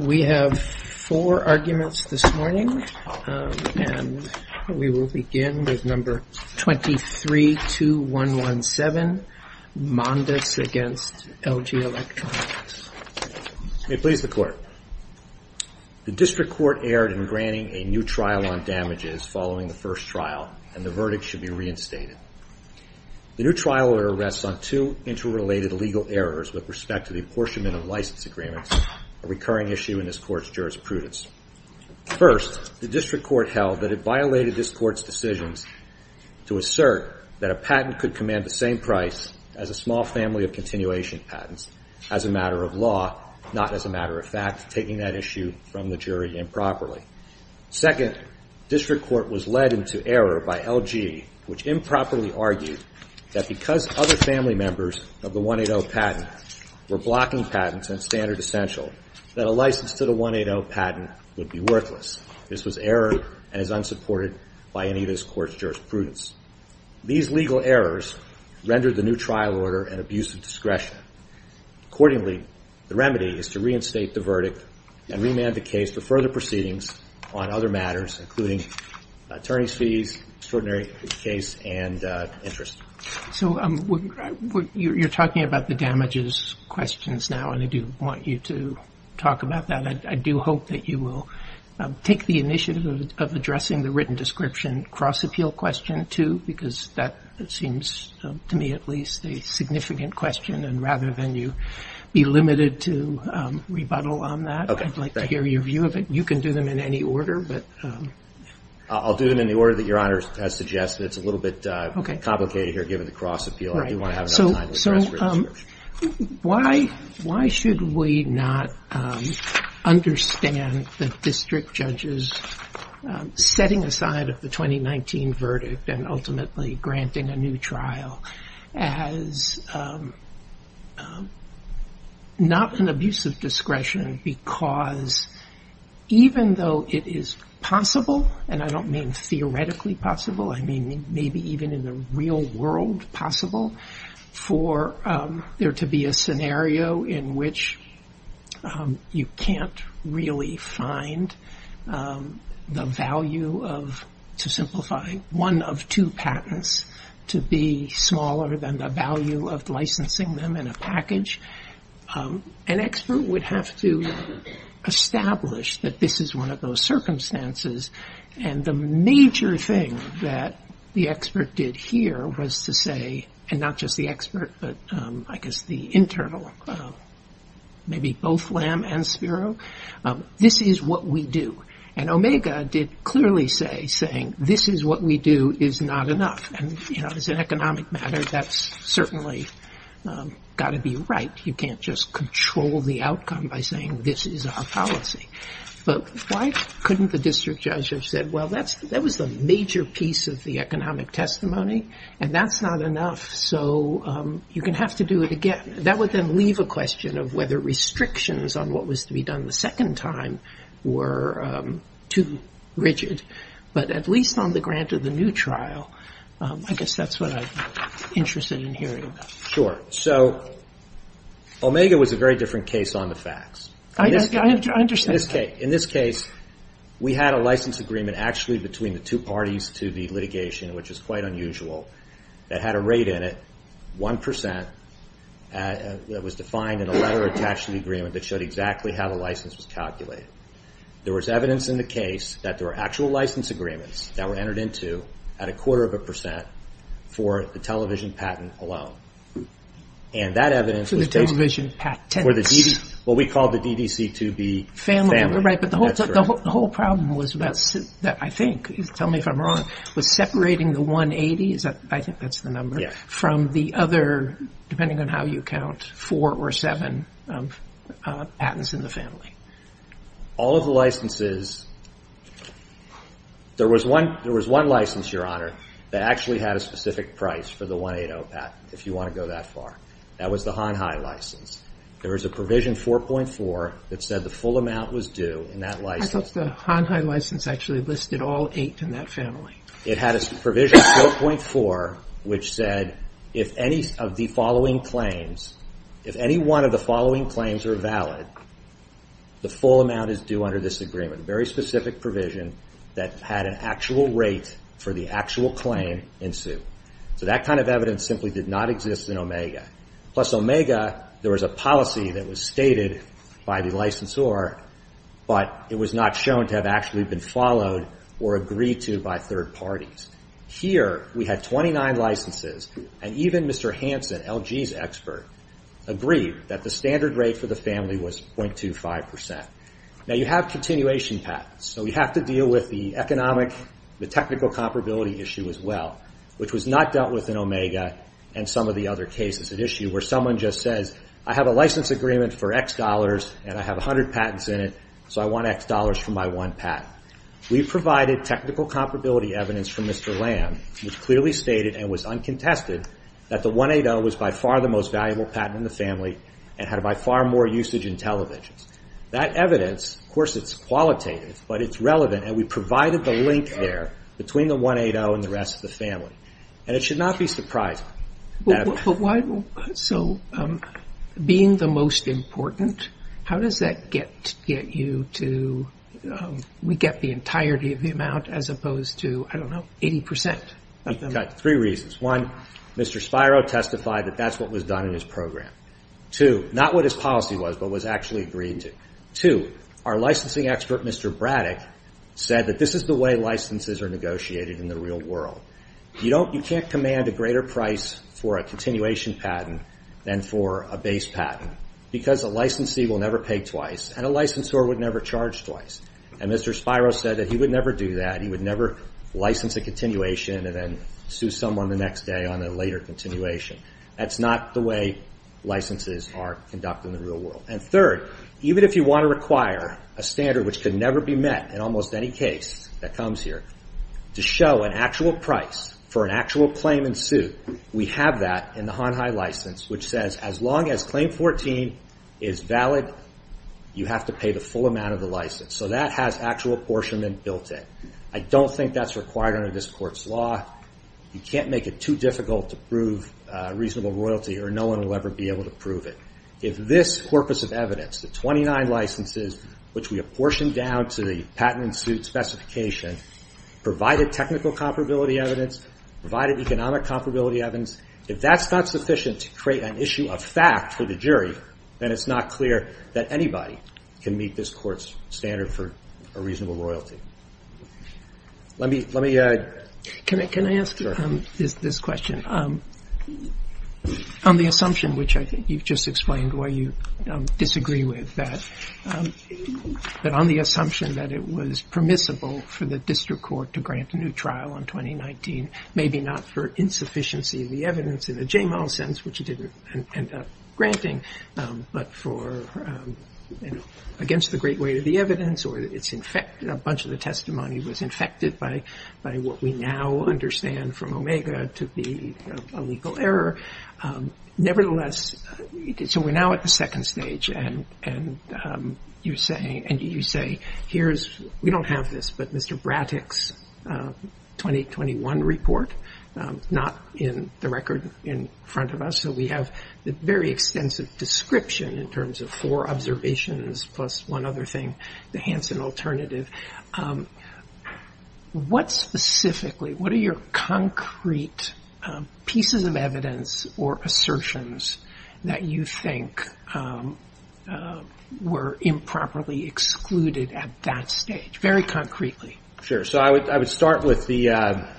We have four arguments this morning, and we will begin with number 23-2117, Mondis v. LG Electronics. May it please the Court. The District Court erred in granting a new trial on damages following the first trial, and the verdict should be reinstated. The new trial rests on two interrelated legal errors with respect to the apportionment of these agreements, a recurring issue in this Court's jurisprudence. First, the District Court held that it violated this Court's decisions to assert that a patent could command the same price as a small family of continuation patents as a matter of law, not as a matter of fact, taking that issue from the jury improperly. Second, District Court was led into error by LG, which improperly argued that because other family members of the 180 patent were blocking patents and standard essential, that a license to the 180 patent would be worthless. This was error and is unsupported by any of this Court's jurisprudence. These legal errors rendered the new trial order an abuse of discretion. Accordingly, the remedy is to reinstate the verdict and remand the case for further proceedings on other matters, including attorney's fees, extraordinary case, and interest. So you're talking about the damages questions now, and I do want you to talk about that. I do hope that you will take the initiative of addressing the written description cross-appeal question too, because that seems to me at least a significant question, and rather than you be limited to rebuttal on that, I'd like to hear your view of it. You can do them in any order, but... I'll do them in the order that Your Honor has suggested. It's a little bit complicated here, given the cross-appeal. I do want to have enough time to address written description. Why should we not understand that District Judges setting aside of the 2019 verdict and ultimately granting a new trial as not an abuse of discretion because even though it is possible, and I don't mean theoretically possible, I mean maybe even in the real world possible for there to be a scenario in which you can't really find the value of, to simplify, one of two patents to be smaller than the value of licensing them in a package, an expert would have to establish that this is one of those circumstances, and the major thing that the expert did here was to say, and not just the expert, but I guess the internal, maybe both Lamb and Spiro, this is what we do. And Omega did clearly say, saying this is what we do is not enough, and as an economic matter, that's certainly got to be right. You can't just control the outcome by saying this is our policy. But why couldn't the District Judge have said, well, that was the major piece of the economic testimony, and that's not enough, so you're going to have to do it again. That would then leave a question of whether restrictions on what was to be done the second time were too rigid. But at least on the grant of the new trial, I guess that's what I'm interested in hearing about. Sure. So Omega was a very different case on the facts. In this case, we had a license agreement actually between the two parties to the litigation, which is quite unusual, that had a rate in it, 1%, that was defined in a letter attached to the agreement that showed exactly how the license was calculated. There was evidence in the case that there were actual license agreements that were entered into at a quarter of a percent for the television patent alone. And that evidence was based on what we called the DDC2B family. But the whole problem was, I think, tell me if I'm wrong, was separating the 180, I think that's the number, from the other, depending on how you count, four or seven patents in the family. All of the licenses, there was one license, Your Honor, that actually had a specific price for the 180 patent, if you want to go that far. That was the Hanhai license. There was a provision 4.4 that said the full amount was due in that license. I thought the Hanhai license actually listed all eight in that family. It had a provision 4.4, which said if any of the following claims, if any one of the The full amount is due under this agreement, a very specific provision that had an actual rate for the actual claim in suit. So that kind of evidence simply did not exist in Omega. Plus Omega, there was a policy that was stated by the licensor, but it was not shown to have actually been followed or agreed to by third parties. Here we had 29 licenses, and even Mr. Hansen, LG's expert, agreed that the standard rate for the family was 0.25%. Now you have continuation patents, so you have to deal with the economic, the technical comparability issue as well, which was not dealt with in Omega and some of the other cases at issue where someone just says, I have a license agreement for X dollars, and I have 100 patents in it, so I want X dollars for my one patent. We provided technical comparability evidence from Mr. Lamb, which clearly stated and was uncontested that the 180 was by far the most valuable patent in the family and had by far more usage in televisions. That evidence, of course it's qualitative, but it's relevant, and we provided the link there between the 180 and the rest of the family, and it should not be surprising. So being the most important, how does that get you to, we get the entirety of the amount as opposed to, I don't know, 80%? Three reasons. One, Mr. Spiro testified that that's what was done in his program. Two, not what his policy was, but was actually agreed to. Two, our licensing expert, Mr. Braddock, said that this is the way licenses are negotiated in the real world. You can't command a greater price for a continuation patent than for a base patent, because a licensee will never pay twice, and a licensor would never charge twice, and Mr. Spiro said that he would never do that. He would never license a continuation and then sue someone the next day on a later continuation. That's not the way licenses are conducted in the real world. And third, even if you want to require a standard which could never be met in almost any case that comes here, to show an actual price for an actual claim and sue, we have that in the Hon Hai license, which says as long as claim 14 is valid, you have to pay the full amount of the license. So that has actual apportionment built in. I don't think that's required under this court's law. You can't make it too difficult to prove reasonable royalty or no one will ever be able to prove it. If this corpus of evidence, the 29 licenses which we have portioned down to the patent and suit specification, provided technical comparability evidence, provided economic comparability evidence, if that's not sufficient to create an issue of fact for the jury, then it's not clear that anybody can meet this court's standard for a reasonable royalty. Let me add... Can I ask this question? On the assumption, which I think you've just explained why you disagree with, that on the assumption that it was permissible for the district court to grant a new trial on 2019, maybe not for insufficiency of the evidence in a J-MAL sense, which it didn't end up granting, but for against the great weight of the evidence or it's in fact a bunch of the testimony was infected by what we now understand from OMEGA to be a legal error, nevertheless, so we're now at the second stage and you say, we don't have this, but Mr. Brattick's 2021 report, not in the record in front of us. We have the very extensive description in terms of four observations plus one other thing, the Hansen alternative. What specifically, what are your concrete pieces of evidence or assertions that you think were improperly excluded at that stage? Very concretely. I would start with the...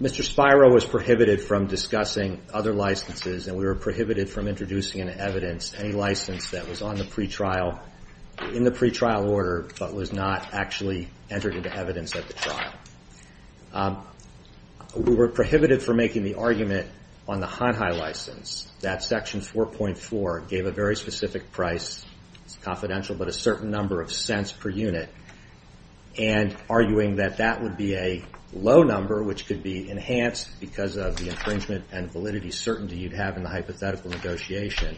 Mr. Spiro was prohibited from discussing other licenses and we were prohibited from introducing an evidence, any license that was on the pretrial, in the pretrial order, but was not actually entered into evidence at the trial. We were prohibited from making the argument on the Hanhai license, that section 4.4 gave a very specific price, it's confidential, but a certain number of cents per unit and arguing that that would be a low number, which could be enhanced because of the infringement and validity certainty you'd have in the hypothetical negotiation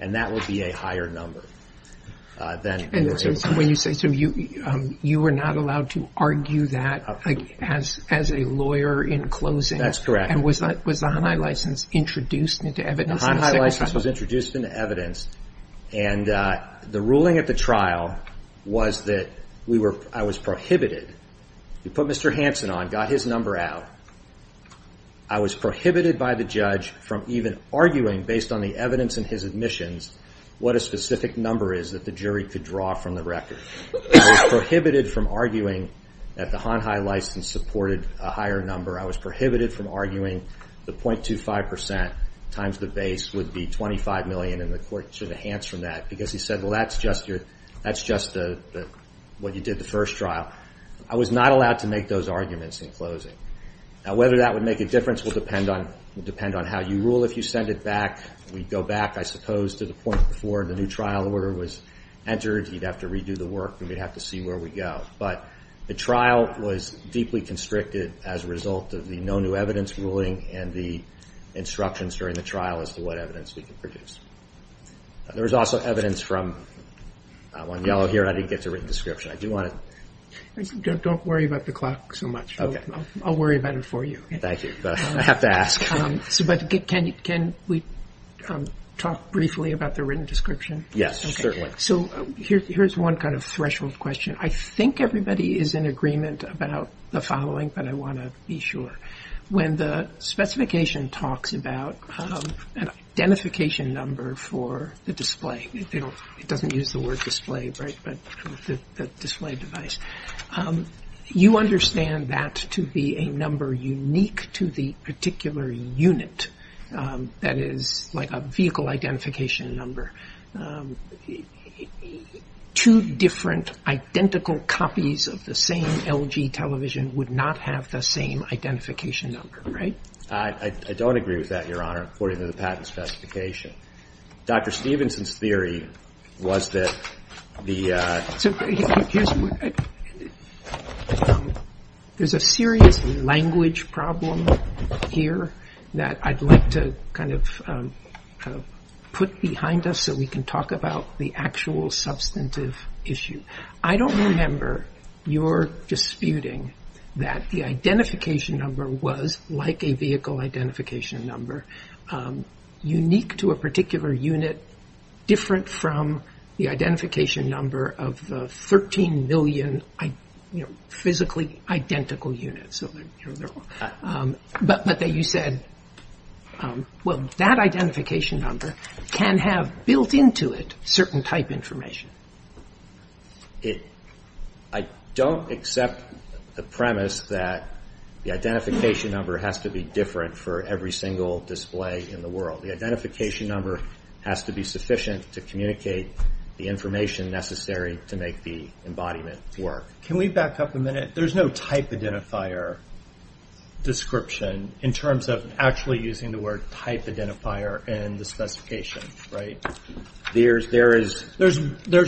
and that would be a higher number. You were not allowed to argue that as a lawyer in closing and was the Hanhai license introduced into evidence? The Hanhai license was introduced into evidence and the ruling at the trial was that I was prohibited. You put Mr. Hansen on, got his number out, I was prohibited by the judge from even arguing based on the evidence in his admissions what a specific number is that the jury could draw from the record. I was prohibited from arguing that the Hanhai license supported a higher number. I was prohibited from arguing the 0.25% times the base would be $25 million and the court should enhance from that because he said, well, that's just what you did the first trial. I was not allowed to make those arguments in closing. Whether that would make a difference will depend on how you rule. If you send it back, we'd go back, I suppose, to the point before the new trial order was entered. You'd have to redo the work and we'd have to see where we go, but the trial was deeply constricted as a result of the no new evidence ruling and the instructions during the trial as to what evidence we could produce. There was also evidence from, one yellow here, and I didn't get to a written description. Don't worry about the clock so much. I'll worry about it for you. Thank you. I have to ask. Can we talk briefly about the written description? Yes, certainly. Here's one kind of threshold question. I think everybody is in agreement about the following, but I want to be sure. When the specification talks about an identification number for the display, it doesn't use the word display, right, but the display device, you understand that to be a number unique to the particular unit that is like a vehicle identification number. Two different, identical copies of the same LG television would not have the same identification number, right? I don't agree with that, Your Honor, according to the patent specification. Dr. Stevenson's theory was that the... So, there's a serious language problem here that I'd like to kind of put behind us so we can talk about the actual substantive issue. I don't remember your disputing that the identification number was like a vehicle identification number, unique to a particular unit, different from the identification number of 13 million physically identical units. But you said, well, that identification number can have built into it certain type information. I don't accept the premise that the identification number has to be different for every single display in the world. The identification number has to be sufficient to communicate the information necessary to make the embodiment work. Can we back up a minute? There's no type identifier description in terms of actually using the word type identifier in the specification, right? There's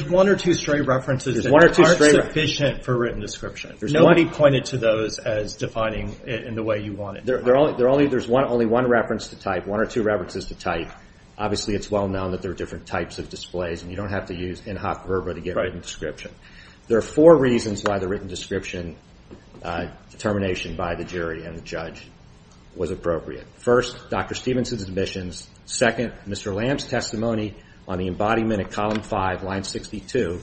one or two stray references that aren't sufficient for written description. Nobody pointed to those as defining it in the way you want it. There's only one reference to type, one or two references to type. Obviously, it's well-known that there are different types of displays and you don't have to use in-hoc verba to get a written description. There are four reasons why the written description determination by the jury and the judge was appropriate. First, Dr. Stevenson's admissions. Second, Mr. Lamb's testimony on the embodiment at column five, line 62,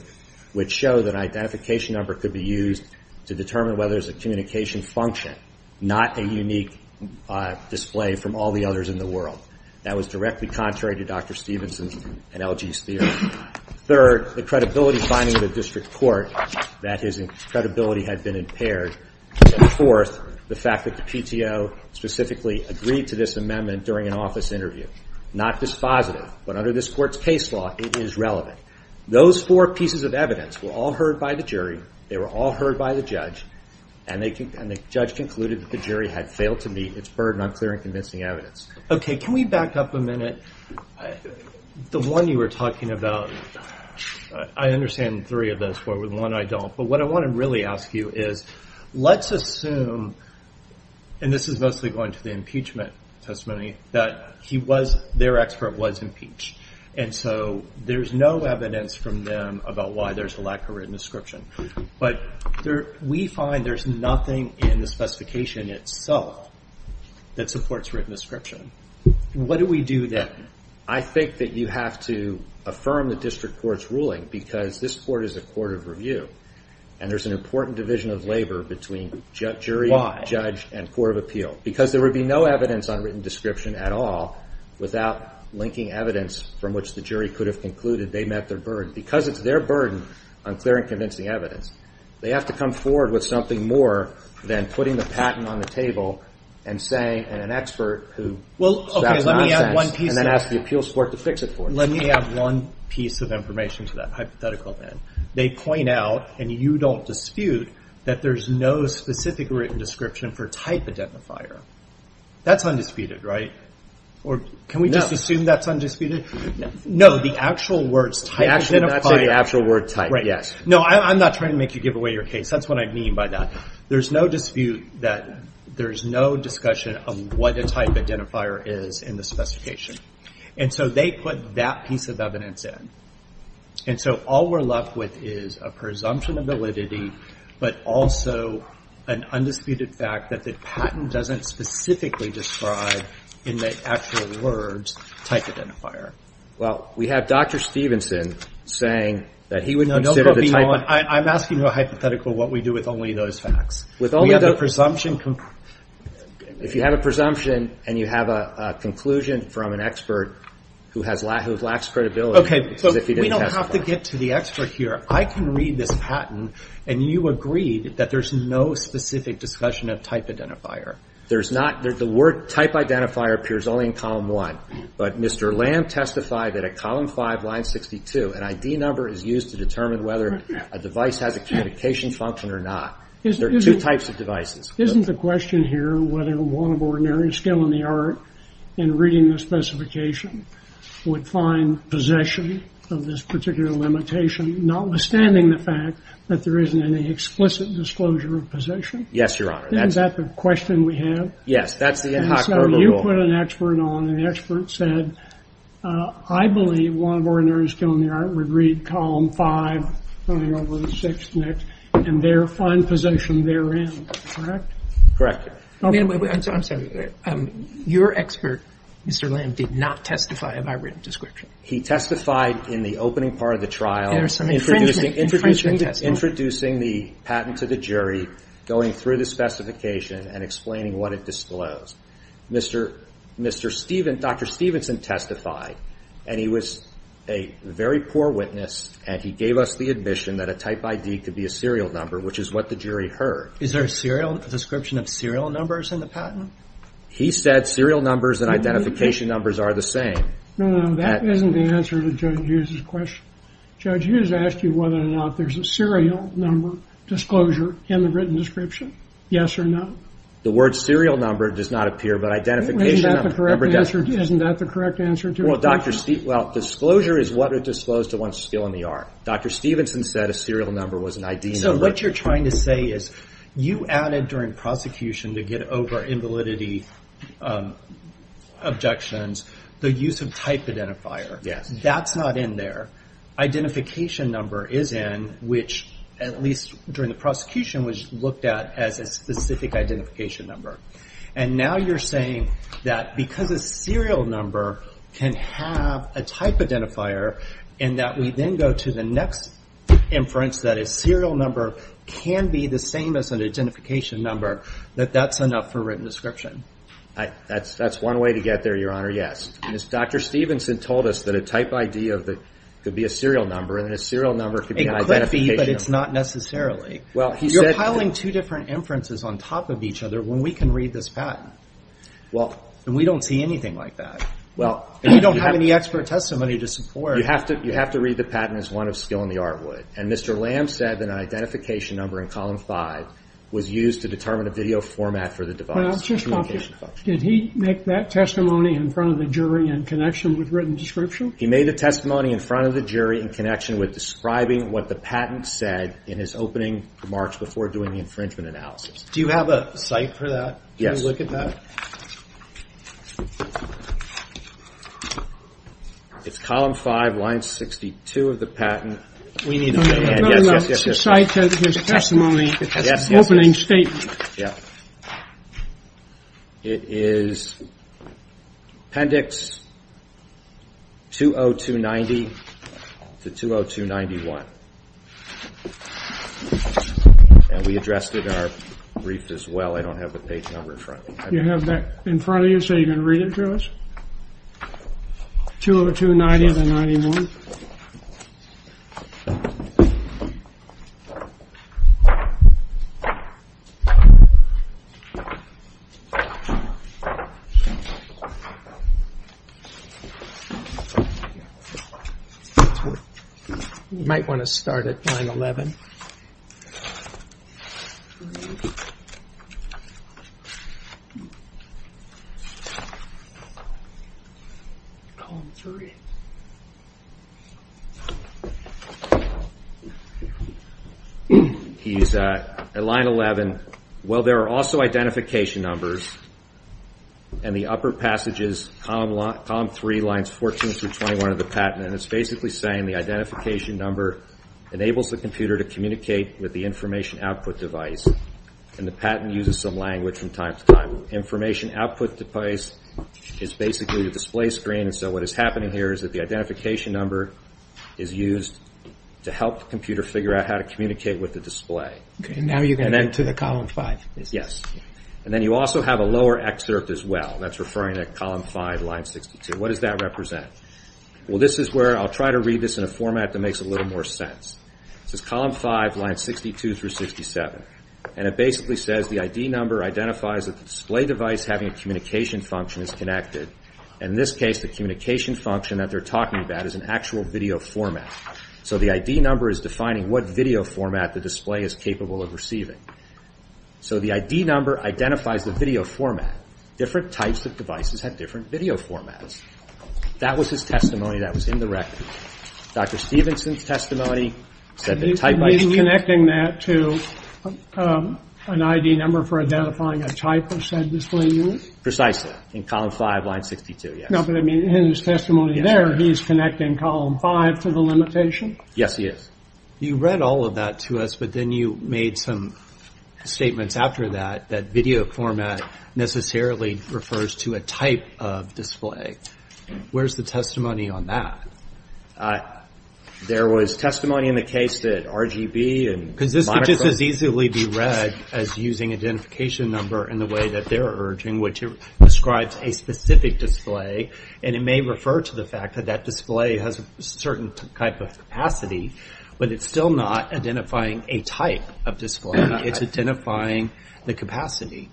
which showed that an identification number could be used to determine whether there's a communication function, not a unique display from all the others in the world. That was directly contrary to Dr. Stevenson and LG's theory. Third, the credibility finding in the district court that his credibility had been impaired. Fourth, the fact that the PTO specifically agreed to this amendment during an office interview. Not dispositive, but under this court's case law, it is relevant. Those four pieces of evidence were all heard by the jury, they were all heard by the judge, and the judge concluded that the jury had failed to meet its burden on clear and convincing evidence. Okay, can we back up a minute? The one you were talking about, I understand three of those, but the one I don't. What I want to really ask you is, let's assume, and this is mostly going to the impeachment testimony, that their expert was impeached. There's no evidence from them about why there's a lack of written description. But we find there's nothing in the specification itself that supports written description. What do we do then? I think that you have to affirm the district court's ruling, because this court is a court of review, and there's an important division of labor between jury, judge, and court of appeal. Because there would be no evidence on written description at all without linking evidence from which the jury could have concluded they met their burden. Because it's their burden on clear and convincing evidence, they have to come forward with something more than putting the patent on the table and saying, and an expert who Well, okay, let me add one piece. And then ask the appeals court to fix it for them. Let me add one piece of information to that hypothetical then. They point out, and you don't dispute, that there's no specific written description for type identifier. That's undisputed, right? Or can we just assume that's undisputed? No. So the actual words type identifier That's the actual word type, yes. No, I'm not trying to make you give away your case. That's what I mean by that. There's no dispute that there's no discussion of what a type identifier is in the specification. And so they put that piece of evidence in. And so all we're left with is a presumption of validity, but also an undisputed fact that the patent doesn't specifically describe in the actual words type identifier. Well, we have Dr. Stevenson saying that he would consider the type No, don't go beyond. I'm asking you a hypothetical what we do with only those facts. We have a presumption If you have a presumption and you have a conclusion from an expert who lacks credibility Okay, so we don't have to get to the expert here. I can read this patent and you agreed that there's no specific discussion of type identifier. There's not. The word type identifier appears only in column one. But Mr. Lamb testified that at column five, line 62, an ID number is used to determine whether a device has a communication function or not. There are two types of devices. Isn't the question here whether one of ordinary skill in the art in reading the specification would find possession of this particular limitation, notwithstanding the fact that there isn't any explicit disclosure of possession? Yes, Your Honor. Isn't that the question we have? Yes, that's the Inhofer rule. You put an expert on and the expert said, I believe one of ordinary skill in the art would read column five, line number six next, and there find possession therein. Correct? Correct. Wait a minute. I'm sorry. Your expert, Mr. Lamb, did not testify. Have I written a description? He testified in the opening part of the trial. Introducing the patent to the jury, going through the specification, and explaining what it disclosed. Dr. Stevenson testified, and he was a very poor witness, and he gave us the admission that a type ID could be a serial number, which is what the jury heard. Is there a description of serial numbers in the patent? He said serial numbers and identification numbers are the same. No, that isn't the answer to Judge Hughes' question. Judge Hughes asked you whether or not there's a serial number disclosure in the written description. Yes or no? The word serial number does not appear, but identification number does. Isn't that the correct answer to it? Well, disclosure is what it disclosed to one's skill in the art. Dr. Stevenson said a serial number was an ID number. So what you're trying to say is you added during prosecution to get over invalidity objections the use of type identifier. Yes. That's not in there. Identification number is in, which at least during the prosecution was looked at as a specific identification number. And now you're saying that because a serial number can have a type identifier, and that we then go to the next inference that a serial number can be the same as an identification number, that that's enough for written description. That's one way to get there, Your Honor, yes. Dr. Stevenson told us that a type ID could be a serial number, and a serial number could be an identification number. It could be, but it's not necessarily. You're piling two different inferences on top of each other when we can read this patent. And we don't see anything like that. And we don't have any expert testimony to support it. You have to read the patent as one of skill in the art would. And Mr. Lamb said that an identification number in column five was used to determine a video format for the device. Did he make that testimony in front of the jury in connection with written description? He made a testimony in front of the jury in connection with describing what the patent said in his opening remarks before doing the infringement analysis. Do you have a site for that? Yes. Can we look at that? It's column five, line 62 of the patent. Yes, yes, yes. The site for his testimony, his opening statement. Yeah. It is appendix 20290 to 20291. And we addressed it in our brief as well. I don't have the page number in front of me. You have that in front of you so you can read it to us? 20291. You might want to start at line 11. He's at line 11. Well, there are also identification numbers in the upper passages, column three, lines 14 through 21 of the patent. And it's basically saying the identification number enables the computer to communicate with the information output device. And the patent uses some language from time to time. Information output device is basically the display screen. And so what is happening here is that the identification number is used to help the computer figure out how to communicate with the display. And now you're going to get to the column five. Yes. And then you also have a lower excerpt as well. That's referring to column five, line 62. What does that represent? Well, this is where I'll try to read this in a format that makes a little more sense. This is column five, lines 62 through 67. And it basically says the ID number identifies that the display device having a communication function is connected. In this case, the communication function that they're talking about is an actual video format. So the ID number is defining what video format the display is capable of receiving. So the ID number identifies the video format. Different types of devices have different video formats. That was his testimony. That was in the record. Dr. Stevenson's testimony said that type ID. He's connecting that to an ID number for identifying a type of said display unit? Precisely. In column five, line 62, yes. No, but I mean, in his testimony there, he's connecting column five to the limitation? Yes, he is. You read all of that to us, but then you made some statements after that that video format necessarily refers to a type of display. Where's the testimony on that? There was testimony in the case that RGB and monochrome. Because this could just as easily be read as using identification number in the way that they're urging, which describes a specific display. And it may refer to the fact that that display has a certain type of capacity, but it's still not identifying a type of display. It's identifying the capacity.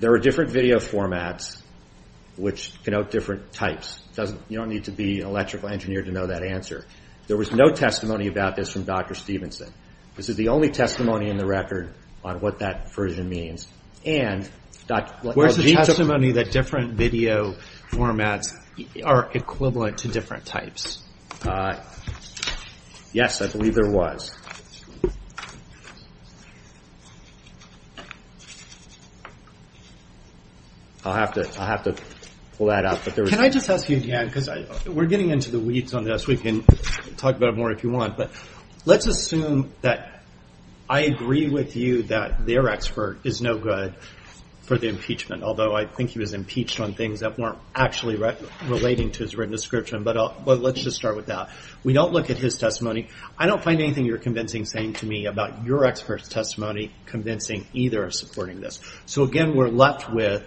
There are different video formats which denote different types. You don't need to be an electrical engineer to know that answer. There was no testimony about this from Dr. Stevenson. This is the only testimony in the record on what that version means. Where's the testimony that different video formats are equivalent to different types? Yes, I believe there was. I'll have to pull that out. Can I just ask you again, because we're getting into the weeds on this. We can talk about it more if you want. But let's assume that I agree with you that their expert is no good for the impeachment, although I think he was impeached on things that weren't actually relating to his written description. But let's just start with that. We don't look at his testimony. I don't find anything you're convincing saying to me about your expert's testimony convincing either of supporting this. So, again, we're left with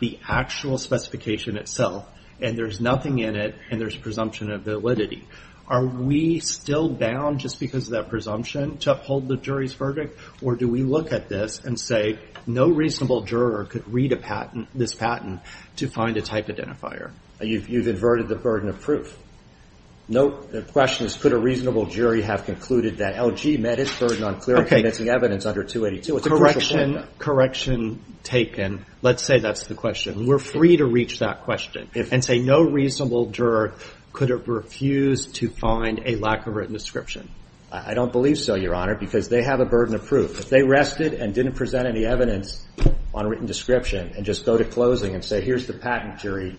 the actual specification itself, and there's nothing in it, and there's presumption of validity. Are we still bound just because of that presumption to uphold the jury's verdict, or do we look at this and say no reasonable juror could read this patent to find a type identifier? You've inverted the burden of proof. The question is, could a reasonable jury have concluded that LG met its burden on clear and convincing evidence under 282? It's a crucial statement. Correction taken. Let's say that's the question. We're free to reach that question and say no reasonable juror could refuse to find a lack of written description. I don't believe so, Your Honor, because they have a burden of proof. If they rested and didn't present any evidence on written description and just go to closing and say, here's the patent jury,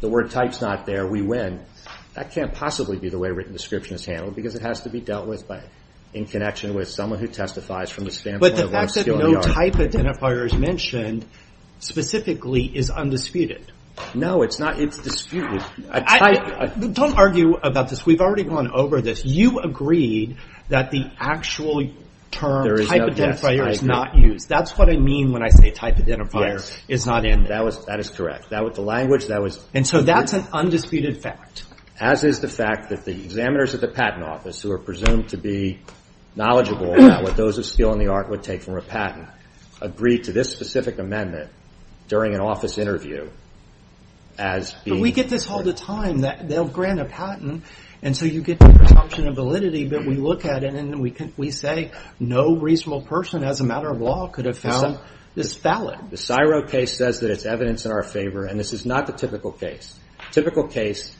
the word type's not there, we win, that can't possibly be the way written description is handled, because it has to be dealt with in connection with someone who testifies from the standpoint of a skilled yard. But the fact that no type identifier is mentioned specifically is undisputed. No, it's not. It's disputed. Don't argue about this. We've already gone over this. You agreed that the actual term type identifier is not used. That's what I mean when I say type identifier is not in there. That is correct. That was the language. And so that's an undisputed fact. As is the fact that the examiners of the patent office, who are presumed to be knowledgeable about what those of skill in the art would take from a patent, agreed to this specific amendment during an office interview as being... But we get this all the time. They'll grant a patent, and so you get the presumption of validity, but we look at it and we say no reasonable person as a matter of law could have found this valid. The CSIRO case says that it's evidence in our favor, and this is not the typical case. Typical case,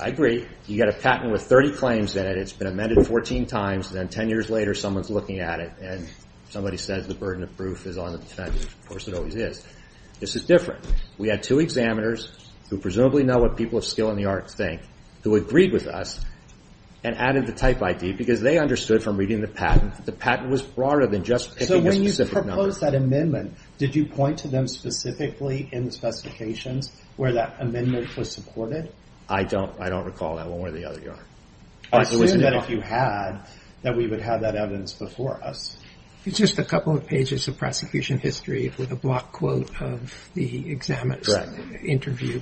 I agree, you get a patent with 30 claims in it. It's been amended 14 times, and then 10 years later someone's looking at it and somebody says the burden of proof is on the defendant. Of course it always is. This is different. We had two examiners who presumably know what people of skill in the art think who agreed with us and added the type ID because they understood from reading the patent that the patent was broader than just picking a specific number. When you proposed that amendment, did you point to them specifically in the specifications where that amendment was supported? I don't recall that one where the other yard. I assume that if you had, that we would have that evidence before us. It's just a couple of pages of prosecution history with a block quote of the examiner's interview.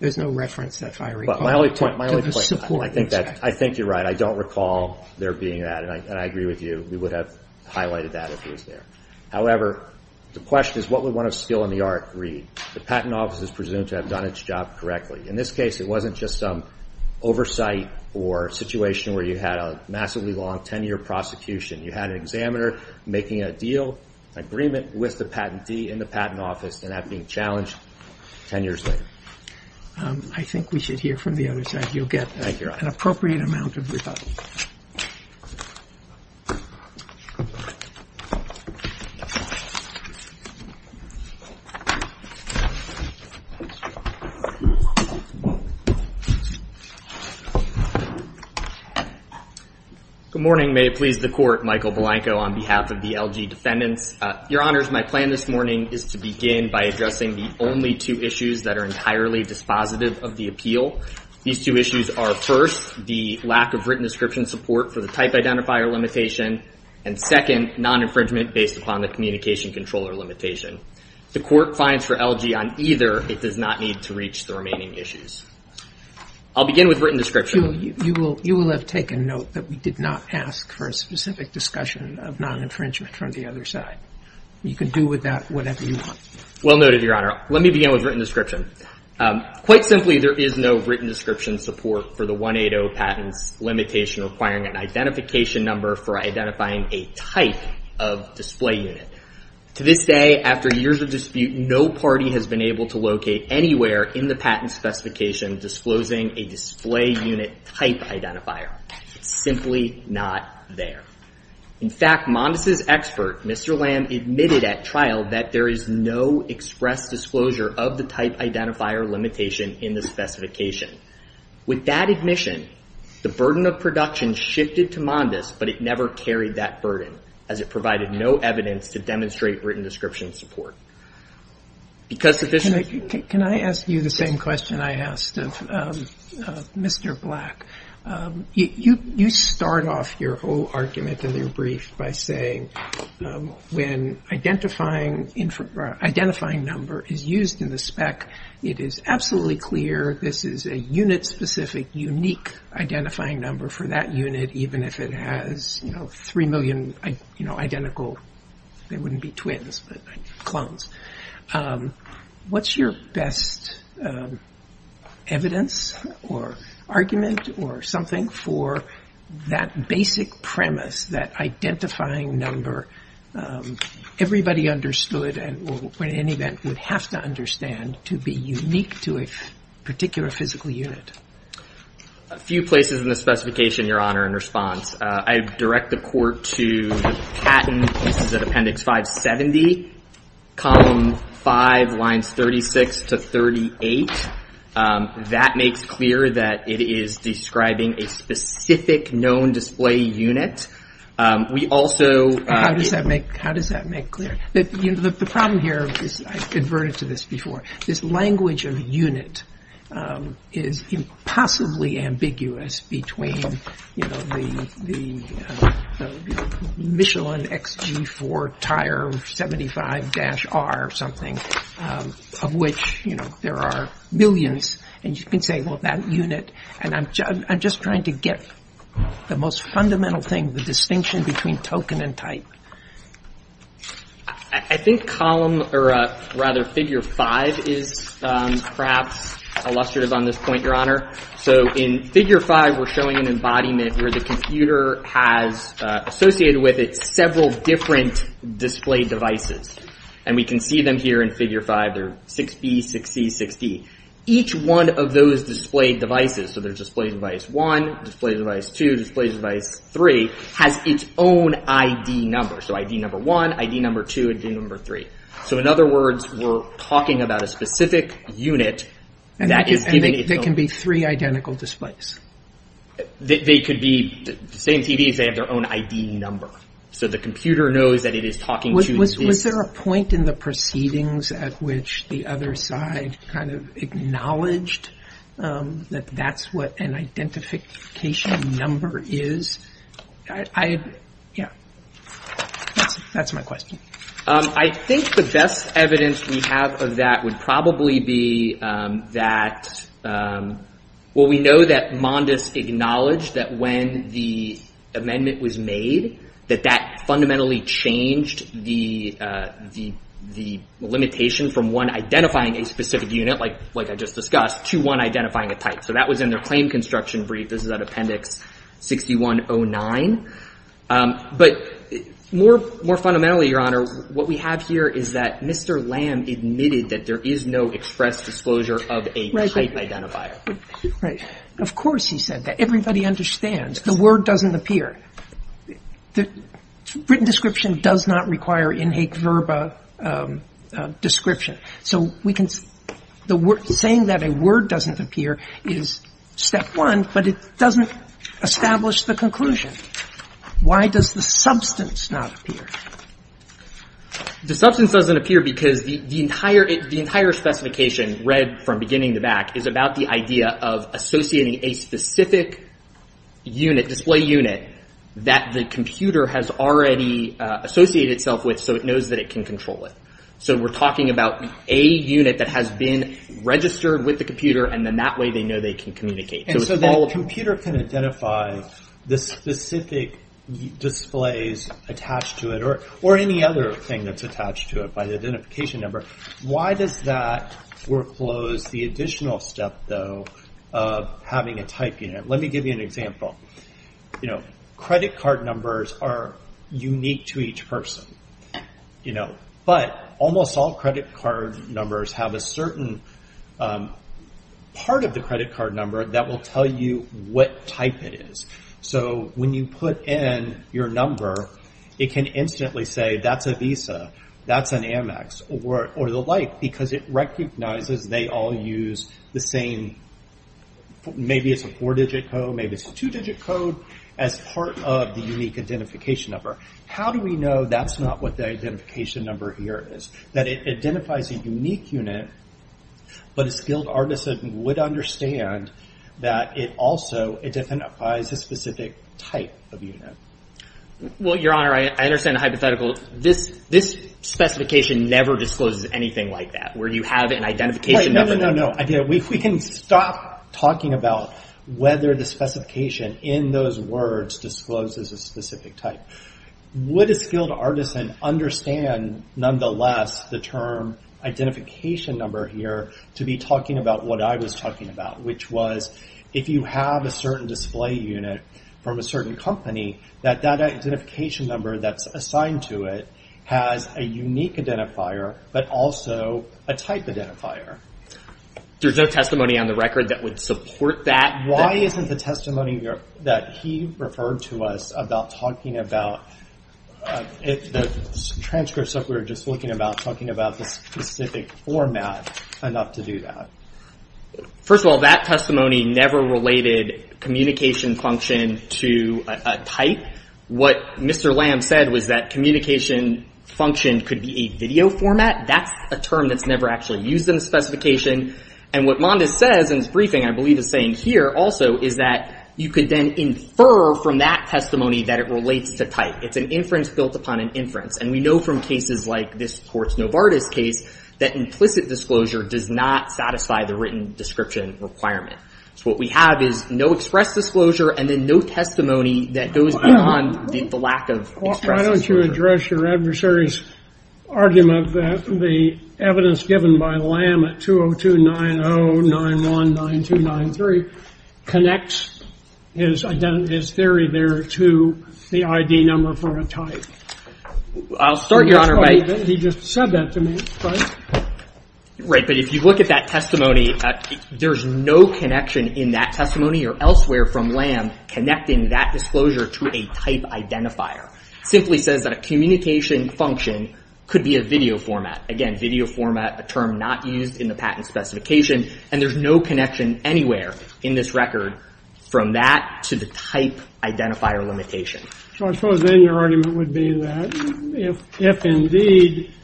There's no reference, if I recall, to the support. I think you're right. I don't recall there being that, and I agree with you. We would have highlighted that if it was there. However, the question is what would one of skill in the art read? The patent office is presumed to have done its job correctly. In this case, it wasn't just some oversight or situation where you had a massively long 10-year prosecution. You had an examiner making a deal, an agreement with the patentee in the patent office, and that being challenged 10 years later. I think we should hear from the other side. You'll get an appropriate amount of rebuttal. Good morning. May it please the Court. Michael Belanco on behalf of the LG defendants. Your Honors, my plan this morning is to begin by addressing the only two issues that are entirely dispositive of the appeal. These two issues are, first, the lack of written description support for the type identifier limitation, and second, non-infringement based upon the communication controller limitation. The Court finds for LG on either it does not need to reach the remaining issues. I'll begin with written description. You will have taken note that we did not ask for a specific discussion of non-infringement from the other side. You can do with that whatever you want. Well noted, Your Honor. Let me begin with written description. Quite simply, there is no written description support for the 180 patents limitation requiring an identification number for identifying a type of display unit. To this day, after years of dispute, no party has been able to locate anywhere in the patent specification disclosing a display unit type identifier. It's simply not there. In fact, Mondes' expert, Mr. Lamb, admitted at trial that there is no express disclosure of the type identifier limitation in the specification. With that admission, the burden of production shifted to Mondes, but it never carried that burden as it provided no evidence to demonstrate written description support. Can I ask you the same question I asked of Mr. Black? You start off your whole argument in your brief by saying when identifying number is used in the spec, it is absolutely clear this is a unit-specific, unique identifying number for that unit, even if it has three million identical, they wouldn't be twins, but clones. What's your best evidence or argument or something for that basic premise that identifying number, everybody understood and would have to understand to be unique to a particular physical unit? A few places in the specification, Your Honor, in response. I direct the court to the patent. This is at Appendix 570, Column 5, Lines 36 to 38. That makes clear that it is describing a specific known display unit. How does that make clear? The problem here is, I've adverted to this before, this language of unit is impossibly ambiguous between the Michelin XG4 tire 75-R or something, of which there are millions, and you can say, well, that unit, I'm just trying to get the most fundamental thing, the distinction between token and type. I think figure 5 is perhaps illustrative on this point, Your Honor. In figure 5, we're showing an embodiment where the computer has associated with it several different display devices. We can see them here in figure 5. They're 6B, 6C, 6D. Each one of those display devices, so there's display device 1, display device 2, display device 3, has its own ID number, so ID number 1, ID number 2, ID number 3. In other words, we're talking about a specific unit that is given its own— They can be three identical displays? They could be the same TV, if they have their own ID number. The computer knows that it is talking to— Was there a point in the proceedings at which the other side kind of acknowledged that that's what an identification number is? Yeah, that's my question. I think the best evidence we have of that would probably be that— Well, we know that Mondes acknowledged that when the amendment was made, that that fundamentally changed the limitation from one identifying a specific unit, like I just discussed, to one identifying a type. So that was in their claim construction brief. This is at Appendix 6109. But more fundamentally, Your Honor, what we have here is that Mr. Lamb admitted that there is no express disclosure of a type identifier. Of course he said that. Everybody understands. The word doesn't appear. Written description does not require in haec verba description. So we can—saying that a word doesn't appear is step one, but it doesn't establish the conclusion. Why does the substance not appear? The substance doesn't appear because the entire specification, read from beginning to back, is about the idea of associating a specific unit, display unit, that the computer has already associated itself with so it knows that it can control it. So we're talking about a unit that has been registered with the computer, and then that way they know they can communicate. And so the computer can identify the specific displays attached to it, or any other thing that's attached to it by the identification number. Why does that foreclose the additional step, though, of having a type unit? Let me give you an example. Credit card numbers are unique to each person. But almost all credit card numbers have a certain part of the credit card number that will tell you what type it is. So when you put in your number, it can instantly say, that's a Visa, that's an Amex, or the like, because it recognizes they all use the same, maybe it's a four-digit code, maybe it's a two-digit code, as part of the unique identification number. How do we know that's not what the identification number here is? That it identifies a unique unit, but a skilled artisan would understand that it also identifies a specific type of unit. Well, Your Honor, I understand the hypothetical. This specification never discloses anything like that, where you have an identification number. No, no, no. We can stop talking about whether the specification in those words discloses a specific type. Would a skilled artisan understand, nonetheless, the term identification number here to be talking about what I was talking about, which was, if you have a certain display unit from a certain company, that that identification number that's assigned to it has a unique identifier, but also a type identifier. There's no testimony on the record that would support that? Why isn't the testimony that he referred to us about talking about, the transcripts that we were just looking about, talking about the specific format enough to do that? First of all, that testimony never related communication function to a type. What Mr. Lamb said was that communication function could be a video format. That's a term that's never actually used in the specification, and what Mondes says in his briefing, I believe, is saying here also, is that you could then infer from that testimony that it relates to type. It's an inference built upon an inference, and we know from cases like this Courts Novartis case that implicit disclosure does not satisfy the written description requirement. So what we have is no express disclosure and then no testimony that goes beyond the lack of express disclosure. Why don't you address your adversary's argument that the evidence given by Lamb at 202-9091-9293 connects his theory there to the ID number for a type? I'll start, Your Honor, by He just said that to me. Right, but if you look at that testimony, there's no connection in that testimony or elsewhere from Lamb connecting that disclosure to a type identifier. It simply says that a communication function could be a video format. Again, video format, a term not used in the patent specification, and there's no connection anywhere in this record from that to the type identifier limitation. So I suppose then your argument would be that if indeed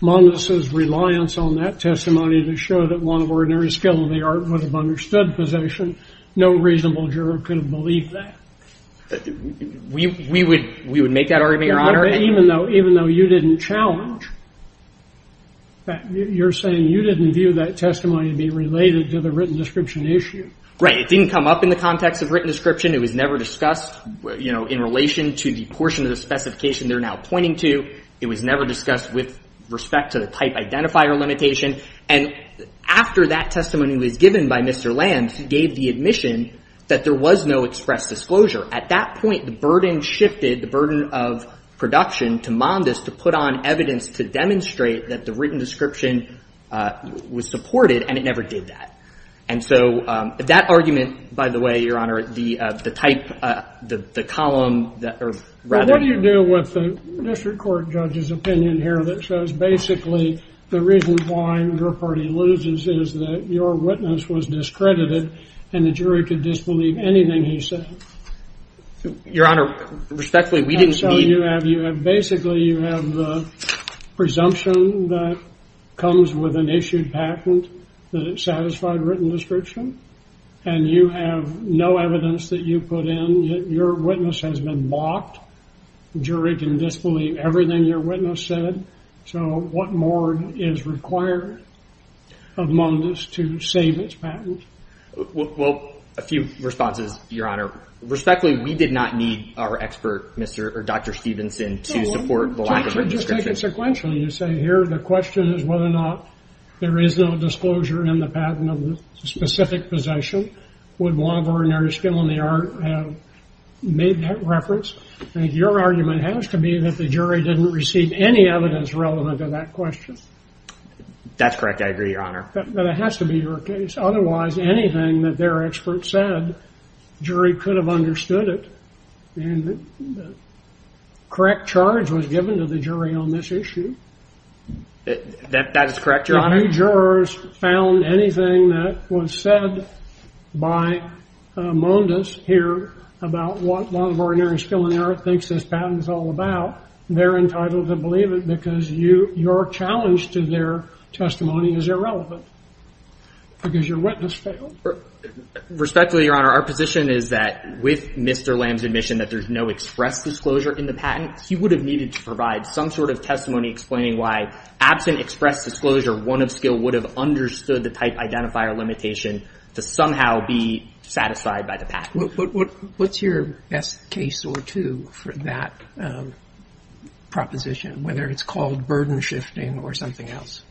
Moniz's reliance on that testimony to show that one of ordinary skill in the art would have understood possession, no reasonable juror could have believed that. We would make that argument, Your Honor. Even though you didn't challenge, you're saying you didn't view that testimony to be related to the written description issue. Right, it didn't come up in the context of written description. It was never discussed in relation to the portion of the specification they're now pointing to. It was never discussed with respect to the type identifier limitation. And after that testimony was given by Mr. Lamb, he gave the admission that there was no express disclosure. At that point, the burden shifted, the burden of production to Moniz to put on evidence to demonstrate that the written description was supported, and it never did that. And so that argument, by the way, Your Honor, the type, the column, or rather... Well, what do you do with the district court judge's opinion here that shows basically the reason why your party loses is that your witness was discredited and the jury could disbelieve anything he said? Your Honor, respectfully, we didn't mean... And so basically you have the presumption that comes with an issued patent that it satisfied written description, and you have no evidence that you put in. Your witness has been blocked. The jury can disbelieve everything your witness said. So what more is required of Moniz to save its patent? Well, a few responses, Your Honor. Respectfully, we did not need our expert, Dr. Stevenson, to support the lack of written description. I take it sequentially. You say here the question is whether or not there is no disclosure in the patent of the specific possession. Would one of ordinary skill in the art have made that reference? I think your argument has to be that the jury didn't receive any evidence relevant to that question. That's correct. I agree, Your Honor. But it has to be your case. Otherwise, anything that their expert said, the jury could have understood it, and the correct charge was given to the jury on this issue. That is correct, Your Honor. If any jurors found anything that was said by Moniz here about what one of ordinary skill in the art thinks this patent is all about, they're entitled to believe it because your challenge to their testimony is irrelevant because your witness failed. Respectfully, Your Honor, our position is that with Mr. Lamb's admission that there's no express disclosure in the patent, he would have needed to provide some sort of testimony explaining why absent express disclosure, one of skill would have understood the type identifier limitation to somehow be satisfied by the patent. What's your best case or two for that proposition, whether it's called burden shifting or something else?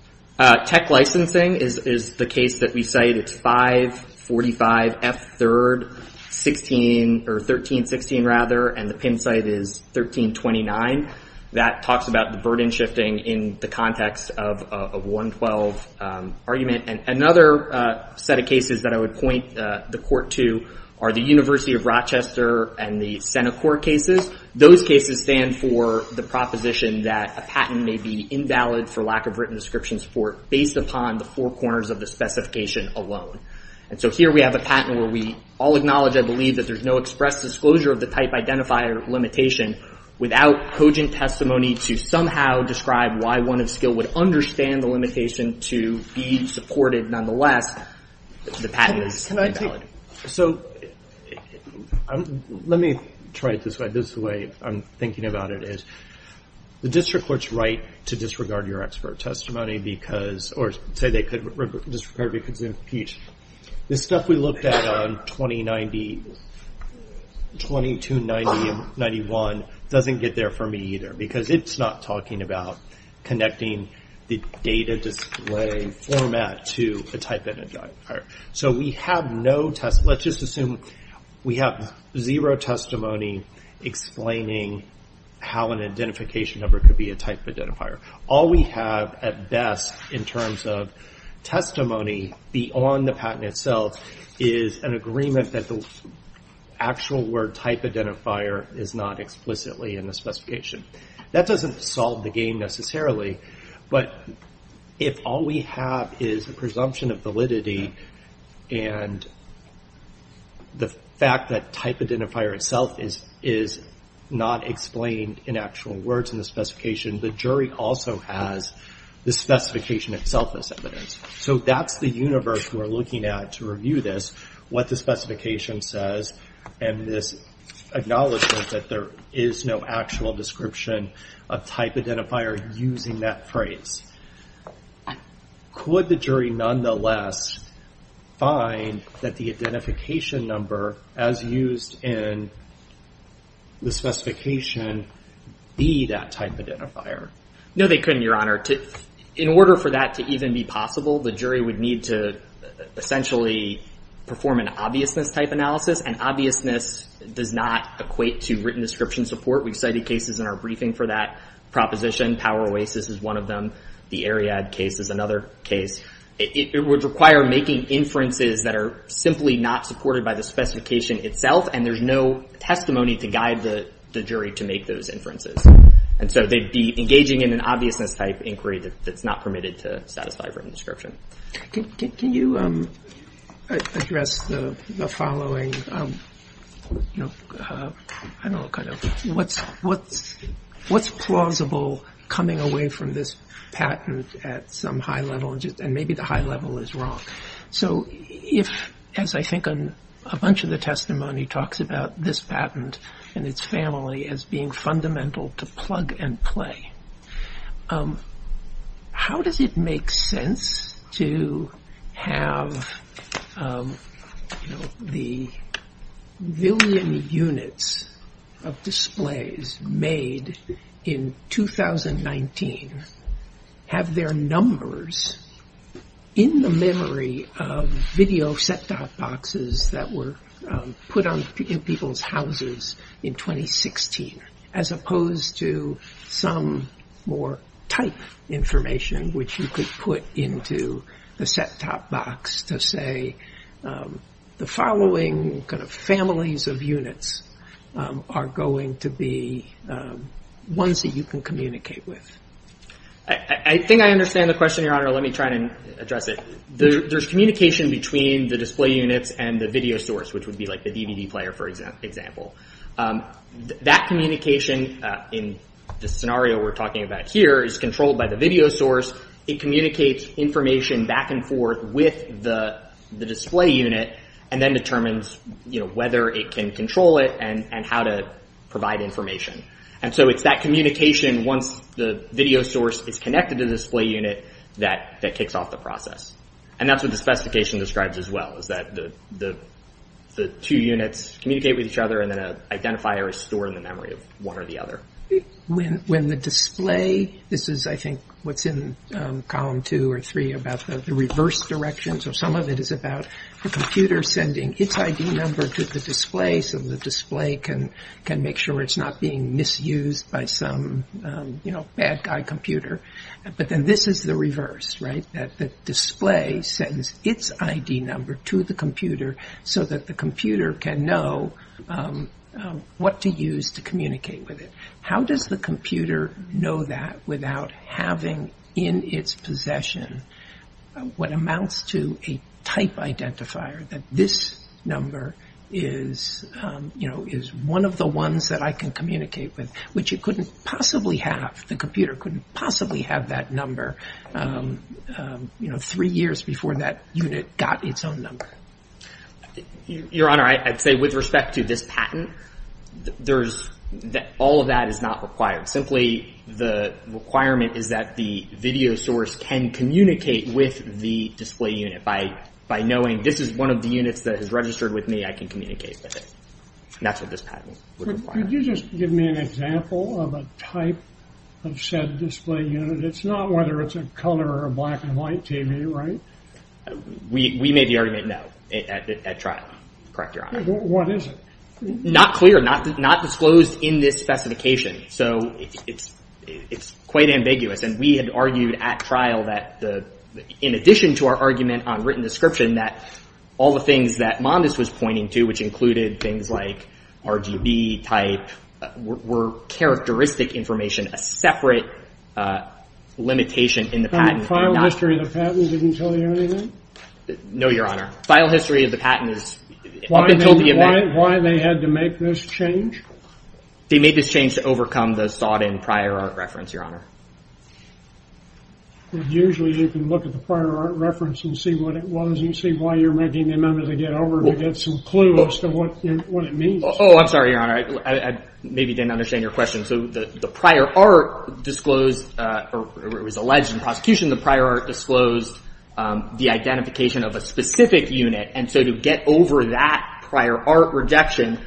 Tech licensing is the case that we cite. It's 545 F3rd 1316, rather, and the pin site is 1329. That talks about the burden shifting in the context of 112 argument. Another set of cases that I would point the court to are the University of Rochester and the Senate court cases. Those cases stand for the proposition that a patent may be invalid for lack of written description support based upon the four corners of the specification alone. Here we have a patent where we all acknowledge, I believe, that there's no express disclosure of the type identifier limitation without cogent testimony to somehow describe why one of skill would understand the limitation to be supported nonetheless, the patent is invalid. Let me try it this way. The way I'm thinking about it is the district court's right to disregard your expert testimony or say they could disregard it because it's an impeach. The stuff we looked at on 2290 and 91 doesn't get there for me either because it's not talking about connecting the data display format to a type identifier. Let's just assume we have zero testimony explaining how an identification number could be a type identifier. All we have at best in terms of testimony beyond the patent itself is an agreement that the actual word type identifier is not explicitly in the specification. That doesn't solve the game necessarily but if all we have is a presumption of validity and the fact that type identifier itself is not explained in actual words in the specification, the jury also has the specification itself as evidence. That's the universe we're looking at to review this, what the specification says and this acknowledgment that there is no actual description of type identifier using that phrase. Could the jury nonetheless find that the identification number as used in the specification be that type identifier? No they couldn't, Your Honor. In order for that to even be possible, the jury would need to essentially perform an obviousness type analysis and obviousness does not equate to written description support. We've cited cases in our briefing for that proposition. Power Oasis is one of them. The Ariad case is another case. It would require making inferences that are simply not supported by the specification itself and there's no testimony to guide the jury to make those inferences. They'd be engaging in an obviousness type inquiry that's not permitted to satisfy written description. Can you address the following? What's plausible coming away from this patent at some high level and maybe the high level is wrong? If, as I think a bunch of the testimony talks about this patent and its family as being fundamental to plug and play, how does it make sense to have the billion units of displays made in 2019 have their numbers in the memory of video set-top boxes that were put in people's houses in 2016 as opposed to some more type information which you could put into the set-top box to say the following families of units are going to be ones that you can communicate with? I think I understand the question, Your Honor. Let me try to address it. There's communication between the display units and the video source, which would be like the DVD player, for example. That communication in the scenario we're talking about here is controlled by the video source. It communicates information back and forth with the display unit and then determines whether it can control it and how to provide information. It's that communication once the video source is connected to the display unit that kicks off the process. That's what the specification describes as well. The two units communicate with each other and then an identifier is stored in the memory of one or the other. When the display... This is, I think, what's in column two or three about the reverse direction. Some of it is about the computer sending its ID number to the display so the display can make sure it's not being misused by some bad guy computer. But then this is the reverse. The display sends its ID number to the computer so that the computer can know what to use to communicate with it. How does the computer know that without having in its possession what amounts to a type identifier that this number is one of the ones that I can communicate with which the computer couldn't possibly have that number three years before that unit got its own number? Your Honor, I'd say with respect to this patent all of that is not required. Simply the requirement is that the video source can communicate with the display unit by knowing this is one of the units that is registered with me, I can communicate with it. That's what this patent would require. Could you just give me an example of a type of said display unit? It's not whether it's a color or a black and white TV, right? We made the argument no at trial. Correct your Honor. What is it? Not clear, not disclosed in this specification. So it's quite ambiguous and we had argued at trial that in addition to our argument on written description that all the things that Mondes was pointing to which included things like RGB type were characteristic information, a separate limitation in the patent. The file history of the patent didn't tell you anything? No, Your Honor. File history of the patent is Why they had to make this change? They made this change to overcome the sought-in prior art reference, Your Honor. Usually you can look at the prior art reference and see what it was and see why you're making the amendment to get over to get some clue as to what it means. Oh, I'm sorry, Your Honor. I maybe didn't understand your question. The prior art disclosed, or it was alleged in prosecution, the prior art disclosed the identification of a specific unit and so to get over that prior art rejection,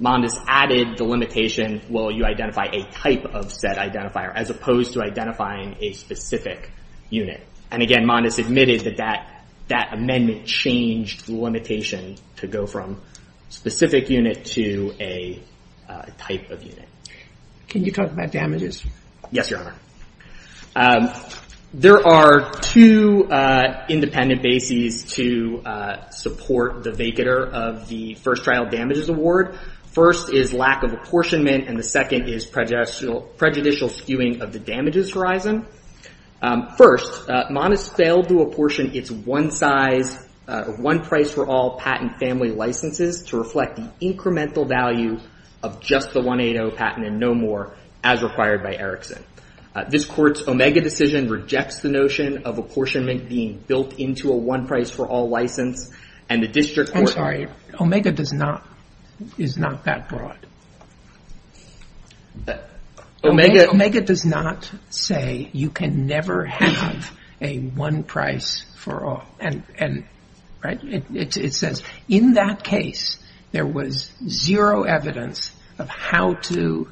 Mondes added the limitation, well you identify a type of said identifier as opposed to identifying a specific unit. And again, Mondes admitted that that amendment changed the limitation to go from specific unit to a type of unit. Can you talk about damages? Yes, Your Honor. There are two independent bases to support the vacater of the First Trial Damages Award. First is lack of apportionment and the second is prejudicial skewing of the damages horizon. First, Mondes failed to apportion its one-size one-price-for-all patent family licenses to reflect the incremental value of just the 180 patent and no more as required by Erickson. This Court's Omega decision rejects the notion of apportionment being built into a one-price-for-all license and the district court... I'm sorry, Omega is not that broad. Omega does not say you can never have a one-price-for-all. It says in that case there was zero evidence of how to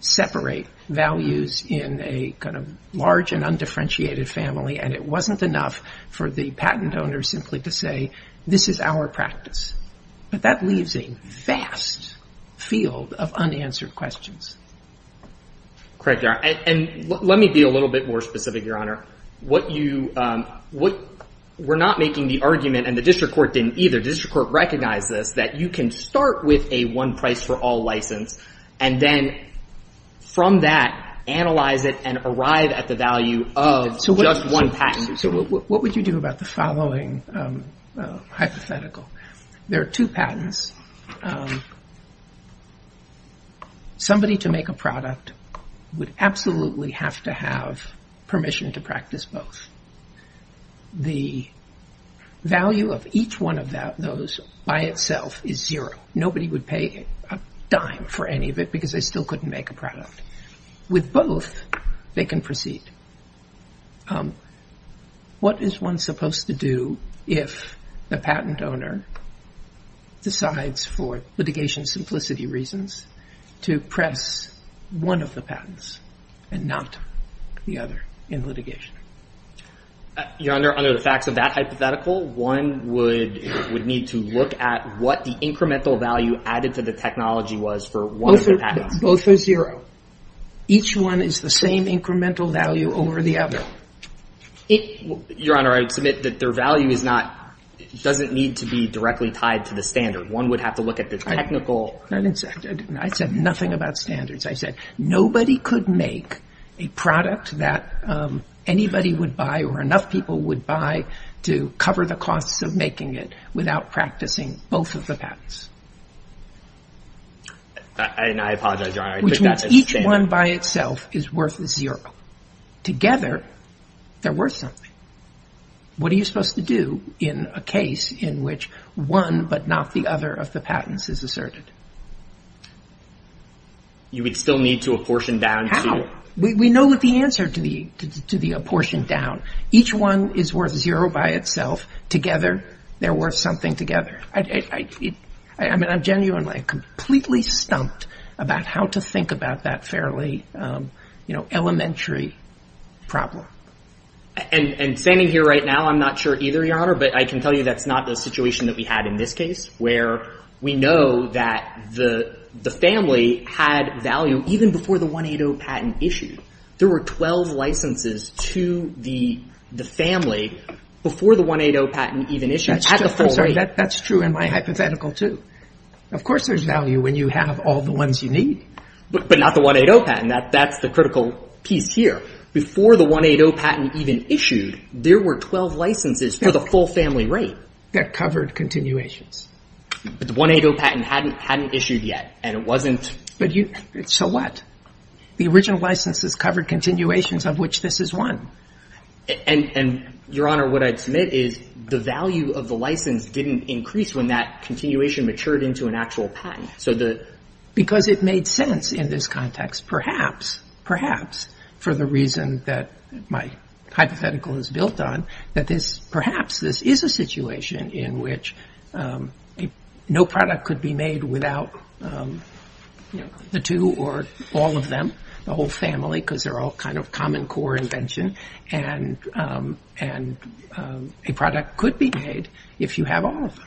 separate values in a kind of large and undifferentiated family and it wasn't enough for the patent owner simply to say this is our practice. But that leaves a vast field of unanswered questions. Let me be a little bit more specific, Your Honor. We're not making the argument and the district court didn't either. The district court recognized this that you can start with a one-price-for-all license and then from that analyze it and arrive at the value of just one patent. So what would you do about the following hypothetical? There are two patents. Somebody to make a product would absolutely have to have permission to practice both. The value of each one of those by itself is zero. Nobody would pay a dime for any of it because they still couldn't make a product. With both they can proceed. What is one supposed to do if the patent owner decides for litigation simplicity reasons to press one of the patents and not the other in litigation? Your Honor, under the facts of that hypothetical, one would need to look at what the incremental value added to the technology was for one of the patents. Both are zero. Each one is the same incremental value over the other. Your Honor, I would submit that their value doesn't need to be directly tied to the standard. One would have to look at the technical... I said nothing about standards. I said nobody could make a product that anybody would buy or enough people would buy to cover the costs of making it without practicing both of the patents. Each one by itself is worth zero. Together they're worth something. What are you supposed to do in a case in which one but not the other of the patents is asserted? How? We know the answer to the apportioned down. Each one is worth zero by itself. Together they're worth something together. I'm genuinely completely stumped about how to think about that fairly elementary problem. And standing here right now, I'm not sure either, Your Honor, but I can tell you that's not the situation that we had in this case where we know that the family had value even before the 180 patent issued. There were 12 licenses to the family before the 180 patent even issued. That's true in my hypothetical too. Of course there's value when you have all the ones you need. But not the 180 patent. That's the critical piece here. Before the 180 patent even issued, there were 12 licenses for the full family rate. That covered continuations. But the 180 patent hadn't issued yet. So what? The original licenses covered continuations of which this is one. And, Your Honor, what I'd submit is the value of the license didn't increase when that continuation matured into an actual patent. Because it made sense in this context, perhaps for the reason that my hypothetical is built on, that perhaps this is a situation in which no product could be made without the two or all of them, the whole family, because they're all kind of common core invention. And a product could be made if you have all of them.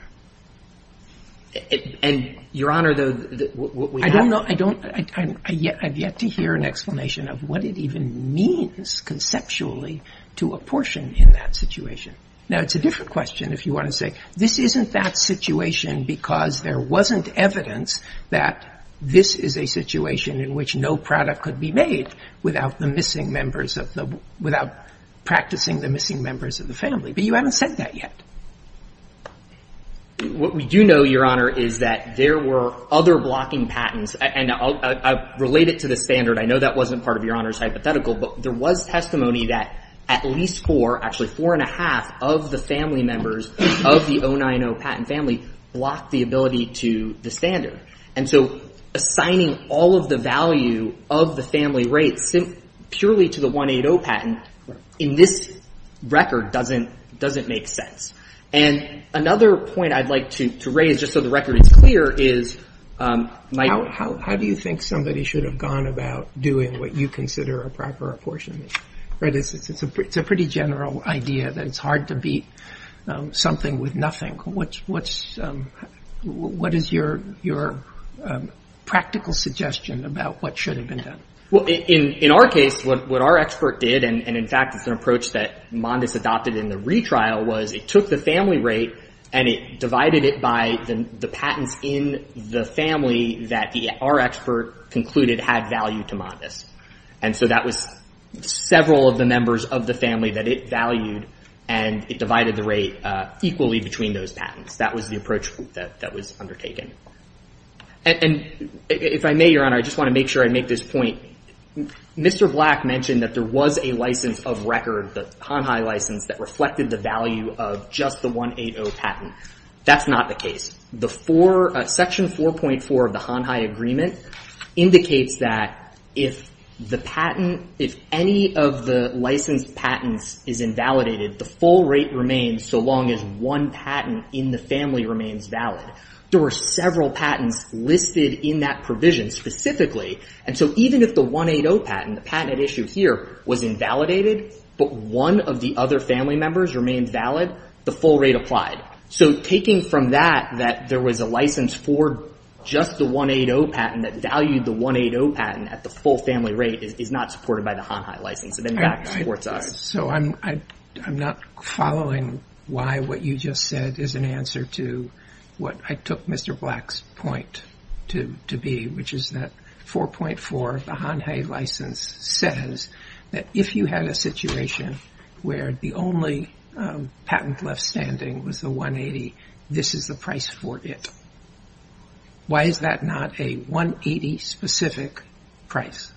And, Your Honor, what we have... I don't know. I've yet to hear an explanation of what it even means conceptually to apportion in that situation. Now, it's a different question if you want to say, this isn't that situation because there wasn't evidence that this is a situation in which no product could be made without the missing members of the... without practicing the missing members of the family. But you haven't said that yet. What we do know, Your Honor, is that there were other blocking patents. And I'll relate it to the standard. I know that wasn't part of Your Honor's hypothetical, but there was testimony that at least four, actually four and a half, of the family members of the 090 patent family blocked the ability to the standard. And so assigning all of the value of the family rates purely to the 180 patent in this record doesn't make sense. And another point I'd like to raise, just so the record is clear, is... how do you think somebody should have gone about doing what you consider a proper apportionment? It's a pretty general idea that it's hard to beat something with nothing. What is your practical suggestion about what should have been done? In our case, what our expert did, and in fact it's an approach that Mondes adopted in the retrial, was it took the family rate and it divided it by the patents in the family that our expert concluded had value to Mondes. And so that was several of the members of the family that it valued, and it divided the rate equally between those patents. That was the approach that was undertaken. If I may, Your Honor, I just want to make sure I make this point. Mr. Black mentioned that there was a license of record, the Hon Hai license, that reflected the value of just the 180 patent. That's not the case. Section 4.4 of the Hon Hai agreement indicates that if any of the licensed patents is invalidated, the full rate remains so long as one patent in the family remains valid. There were several patents listed in that provision specifically, and so even if the 180 patent, the patent at issue here, was invalidated, but one of the other family members remained valid, the full rate applied. So taking from that that there was a license for just the 180 patent that valued the 180 patent at the full family rate is not supported by the Hon Hai license. I'm not following why what you just said is an answer to what I took Mr. Black's point to be, which is that 4.4 of the Hon Hai license says that if you had a situation where the only patent left standing was the 180, this is the price for it. Why is that not a 180 specific price?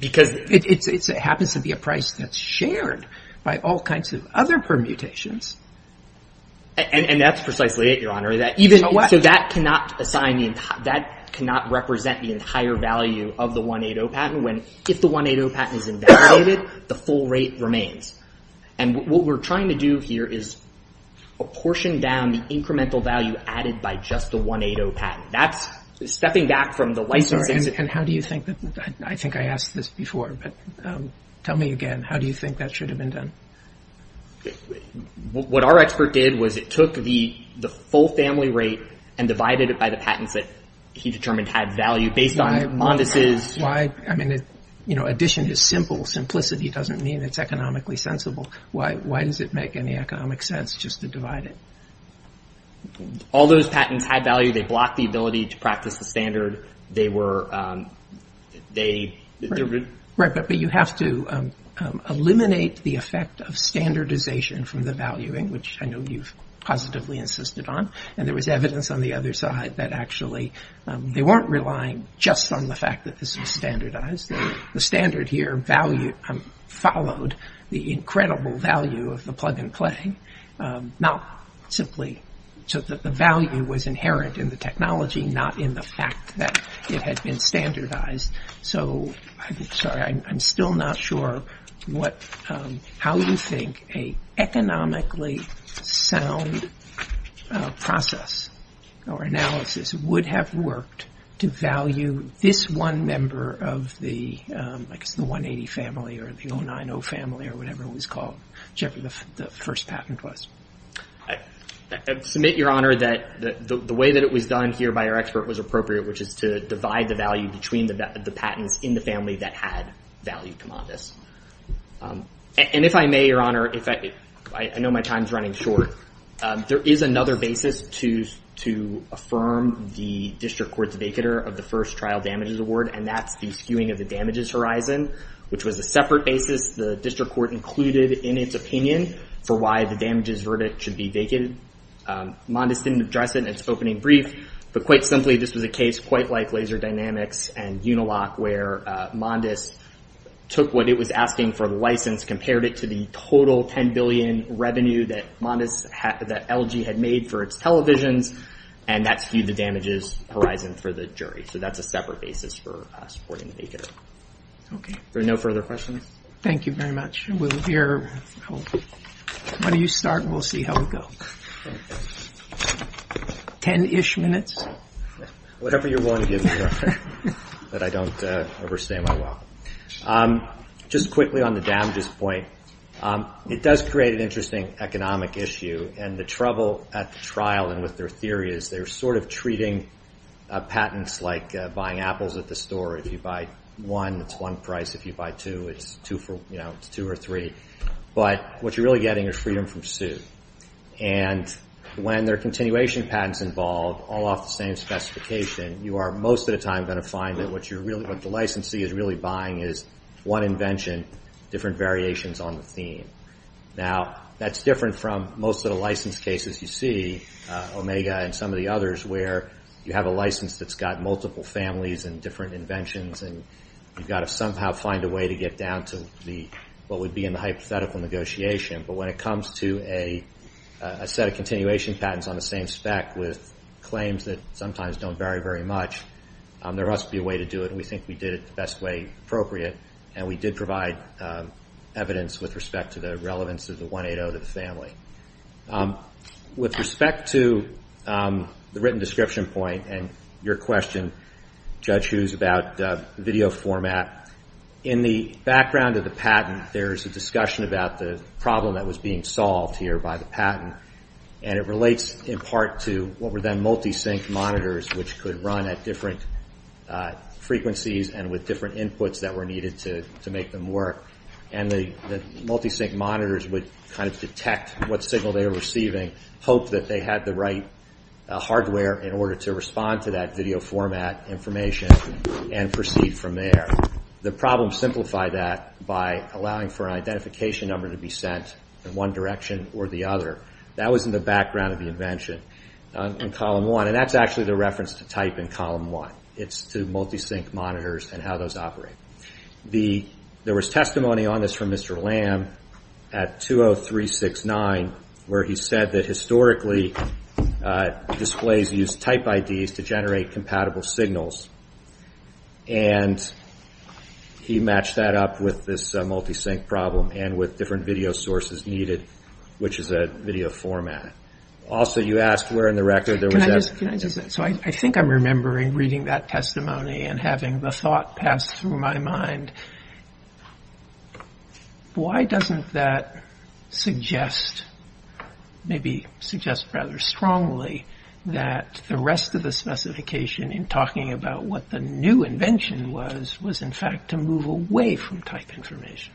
Because it happens to be a price that's shared by all kinds of other permutations. And that's precisely it, Your Honor. So that cannot represent the entire value of the 180 patent when if the 180 patent is invalidated, the full rate remains. And what we're trying to do here is apportion down the incremental value added by just the 180 patent. That's stepping back from the license. And how do you think that, I think I asked this before, but tell me again, how do you think that should have been done? What our expert did was it took the full family rate and divided it by the addition is simple. Simplicity doesn't mean it's economically sensible. Why does it make any economic sense just to divide it? All those patents had value. They blocked the ability to practice the standard. But you have to eliminate the effect of standardization from the valuing, which I know you've positively insisted on. And there was evidence on the other side that actually they weren't relying just on the fact that this was standardized. The standard here followed the incredible value of the plug and play. So that the value was inherent in the technology, not in the fact that it had been standardized. So I'm still not sure how you think an economically sound process or analysis would have worked to value this one member of the 180 family or the 090 family or whatever it was called, whichever the first patent was. I submit, Your Honor, that the way that it was done here by our expert was appropriate, which is to divide the value between the patents in the family that had value commandos. And if I may, Your Honor, I know my time's running short. There is another basis to affirm the district court's vacater of the first trial damages award, and that's the skewing of the damages horizon, which was a separate basis the district court included in its opinion for why the damages verdict should be vacated. Mondes didn't address it in its opening brief, but quite simply, this was a case quite like LaserDynamics and Unilock where Mondes took what it was asking for the license, compared it to the damages that LG had made for its televisions, and that skewed the damages horizon for the jury. So that's a separate basis for supporting the vacater. Are there no further questions? Thank you very much. Why don't you start, and we'll see how we go. Ten-ish minutes? Whatever you're willing to give me, Your Honor, that I don't overstay my welcome. Just quickly on the damages point, it does create an interesting economic issue, and the trouble at the trial and with their theory is they're sort of treating patents like buying apples at the store. If you buy one, it's one price. If you buy two, it's two or three. But what you're really getting is freedom from suit. And when there are continuation patents involved, all off the same specification, you are most of the time going to find that what the licensee is really buying is one invention, different variations on the theme. Now, that's different from most of the license cases you see, Omega and some of the others, where you have a license that's got multiple families and different inventions, and you've got to somehow find a way to get down to what would be in the hypothetical negotiation. But when it comes to a set of continuation patents on the same spec with claims that sometimes don't vary very much, there must be a way to do it, and we think we did it the best way appropriate, and we did provide evidence with respect to the relevance of the 180 to the family. With respect to the written description point and your question, Judge Hughes, about video format, in the background of the patent, there's a discussion about the problem that was being solved here by the patent, and it relates in part to what were then multi-sync monitors, which could run at different frequencies and with different inputs that were needed to make them work, and the multi-sync monitors would detect what signal they were receiving, hope that they had the right hardware in order to respond to that video format information and proceed from there. The problem simplified that by allowing for an identification number to be sent in one direction or the other. That was in the background of the reference to type in column one. It's to multi-sync monitors and how those operate. There was testimony on this from Mr. Lamb at 20369, where he said that historically displays used type IDs to generate compatible signals, and he matched that up with this multi-sync problem and with different video sources needed, which is a video format. Also, you asked where in the record there was... I think I'm remembering reading that testimony and having the thought pass through my mind. Why doesn't that suggest, maybe suggest rather strongly, that the rest of the specification in talking about what the new invention was, was in fact to move away from type information?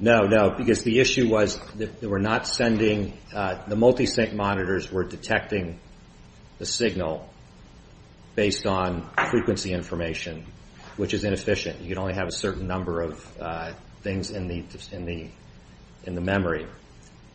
No, no, because the issue was that the multi-sync monitors were detecting the signal based on frequency information, which is inefficient. You could only have a certain number of things in the memory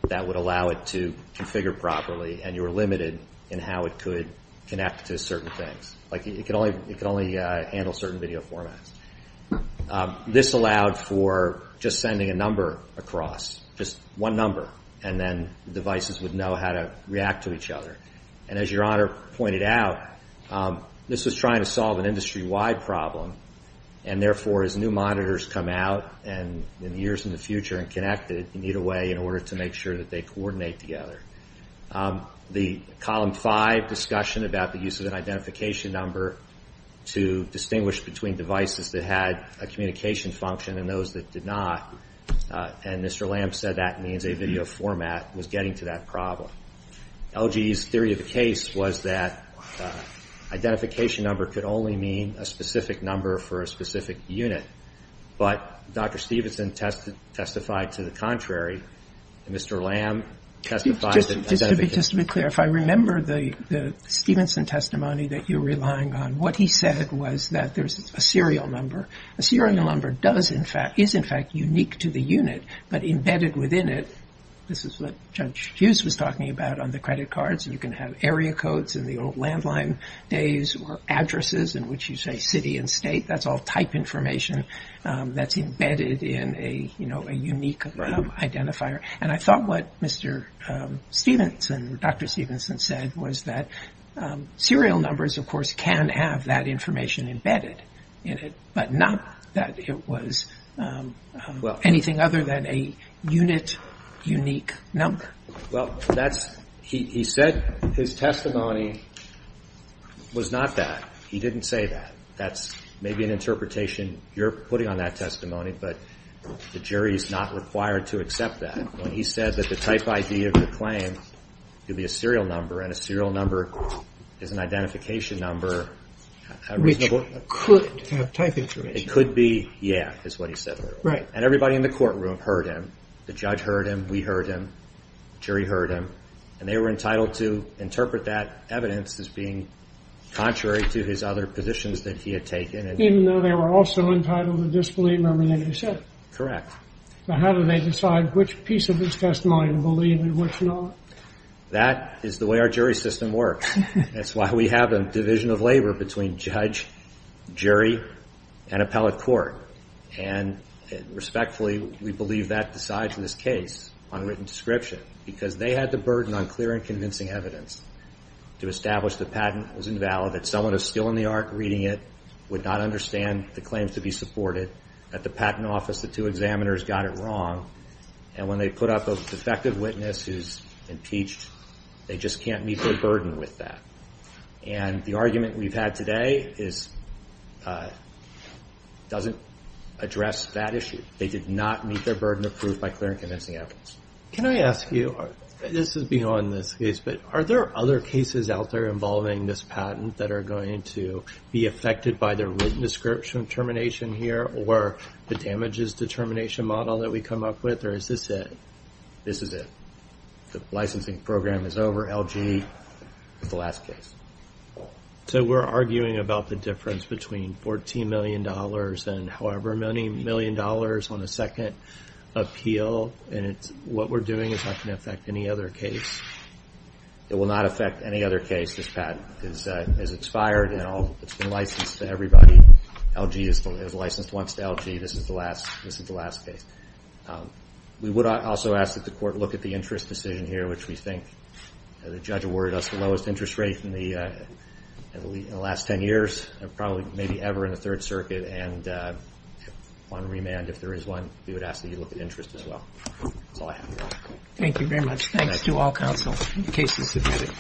that would allow it to configure properly and you were limited in how it could connect to certain things. It could only handle certain video formats. This allowed for just sending a number across, just one number and then the devices would know how to react to each other. And as your Honor pointed out, this was trying to solve an industry-wide problem and therefore as new monitors come out in years in the future and connect it, you need a way in order to make sure that they coordinate together. The column 5 discussion about the use of an identification number to distinguish between devices that had a communication function and those that did not and Mr. Lamb said that means a video format was getting to that problem. LG's theory of the case was that identification number could only mean a specific number for a specific unit, but Dr. Stevenson testified to the contrary and Mr. Lamb testified that identification... Just to be clear, if I remember the Stevenson testimony that you're relying on, what he said was that there's a serial number. A serial number is in fact unique to the unit but embedded within it, this is what Judge Hughes was talking about on the credit cards, you can have area codes in the old landline days or addresses in which you say city and state. That's all type information that's embedded in a unique identifier. And I thought what Dr. Stevenson said was that serial numbers of course can have that information embedded in it, but not that it was anything other than a unit unique number. Well, that's he said his testimony was not that. He didn't say that. That's maybe an interpretation you're putting on that testimony but the jury's not required to accept that. When he said that the type ID of the claim could be a serial number and a serial number is an identification number... Which could have type information. It could be, yeah, is what he said. Right. And everybody in the courtroom heard him. The judge heard him, we heard him, the jury heard him and they were entitled to interpret that evidence as being contrary to his other positions that he had taken. Even though they were also entitled to disbelieve everything he said. Correct. Now how do they decide which piece of his testimony to believe and which not? That is the way our jury system works. That's why we have a division of labor between judge, jury, and appellate court. And respectfully, we believe that decides this case on written description because they had the burden on clear and convincing evidence to establish the patent was invalid, that someone who's still in the arc reading it would not understand the claims to be supported, that the patent office, the two examiners got it wrong, and when they put up a defective witness who's impeached, they just can't meet their burden with that. And the argument we've had today is doesn't address that issue. They did not meet their burden of proof by clear and convincing evidence. Can I ask you, this is beyond this case, but are there other cases out there involving this patent that are going to be affected by their written description termination here, or the damages determination model that we come up with, or is this it? This is it. The licensing program is over. LG is the last case. So we're arguing about the difference between $14 million and however many million dollars on a second appeal, and what we're doing is not going to affect any other case. It will not affect any other case. This patent is expired and it's been licensed to everybody. LG is licensed once to LG. This is the last case. We would also ask that the court look at the interest decision here, which we think the judge awarded us the lowest interest rate in the last 10 years, and probably maybe ever in the Third Circuit, and on remand, if there is one, we would ask that you look at interest as well. That's all I have. Thank you very much. Thanks to all counsel. The case is submitted.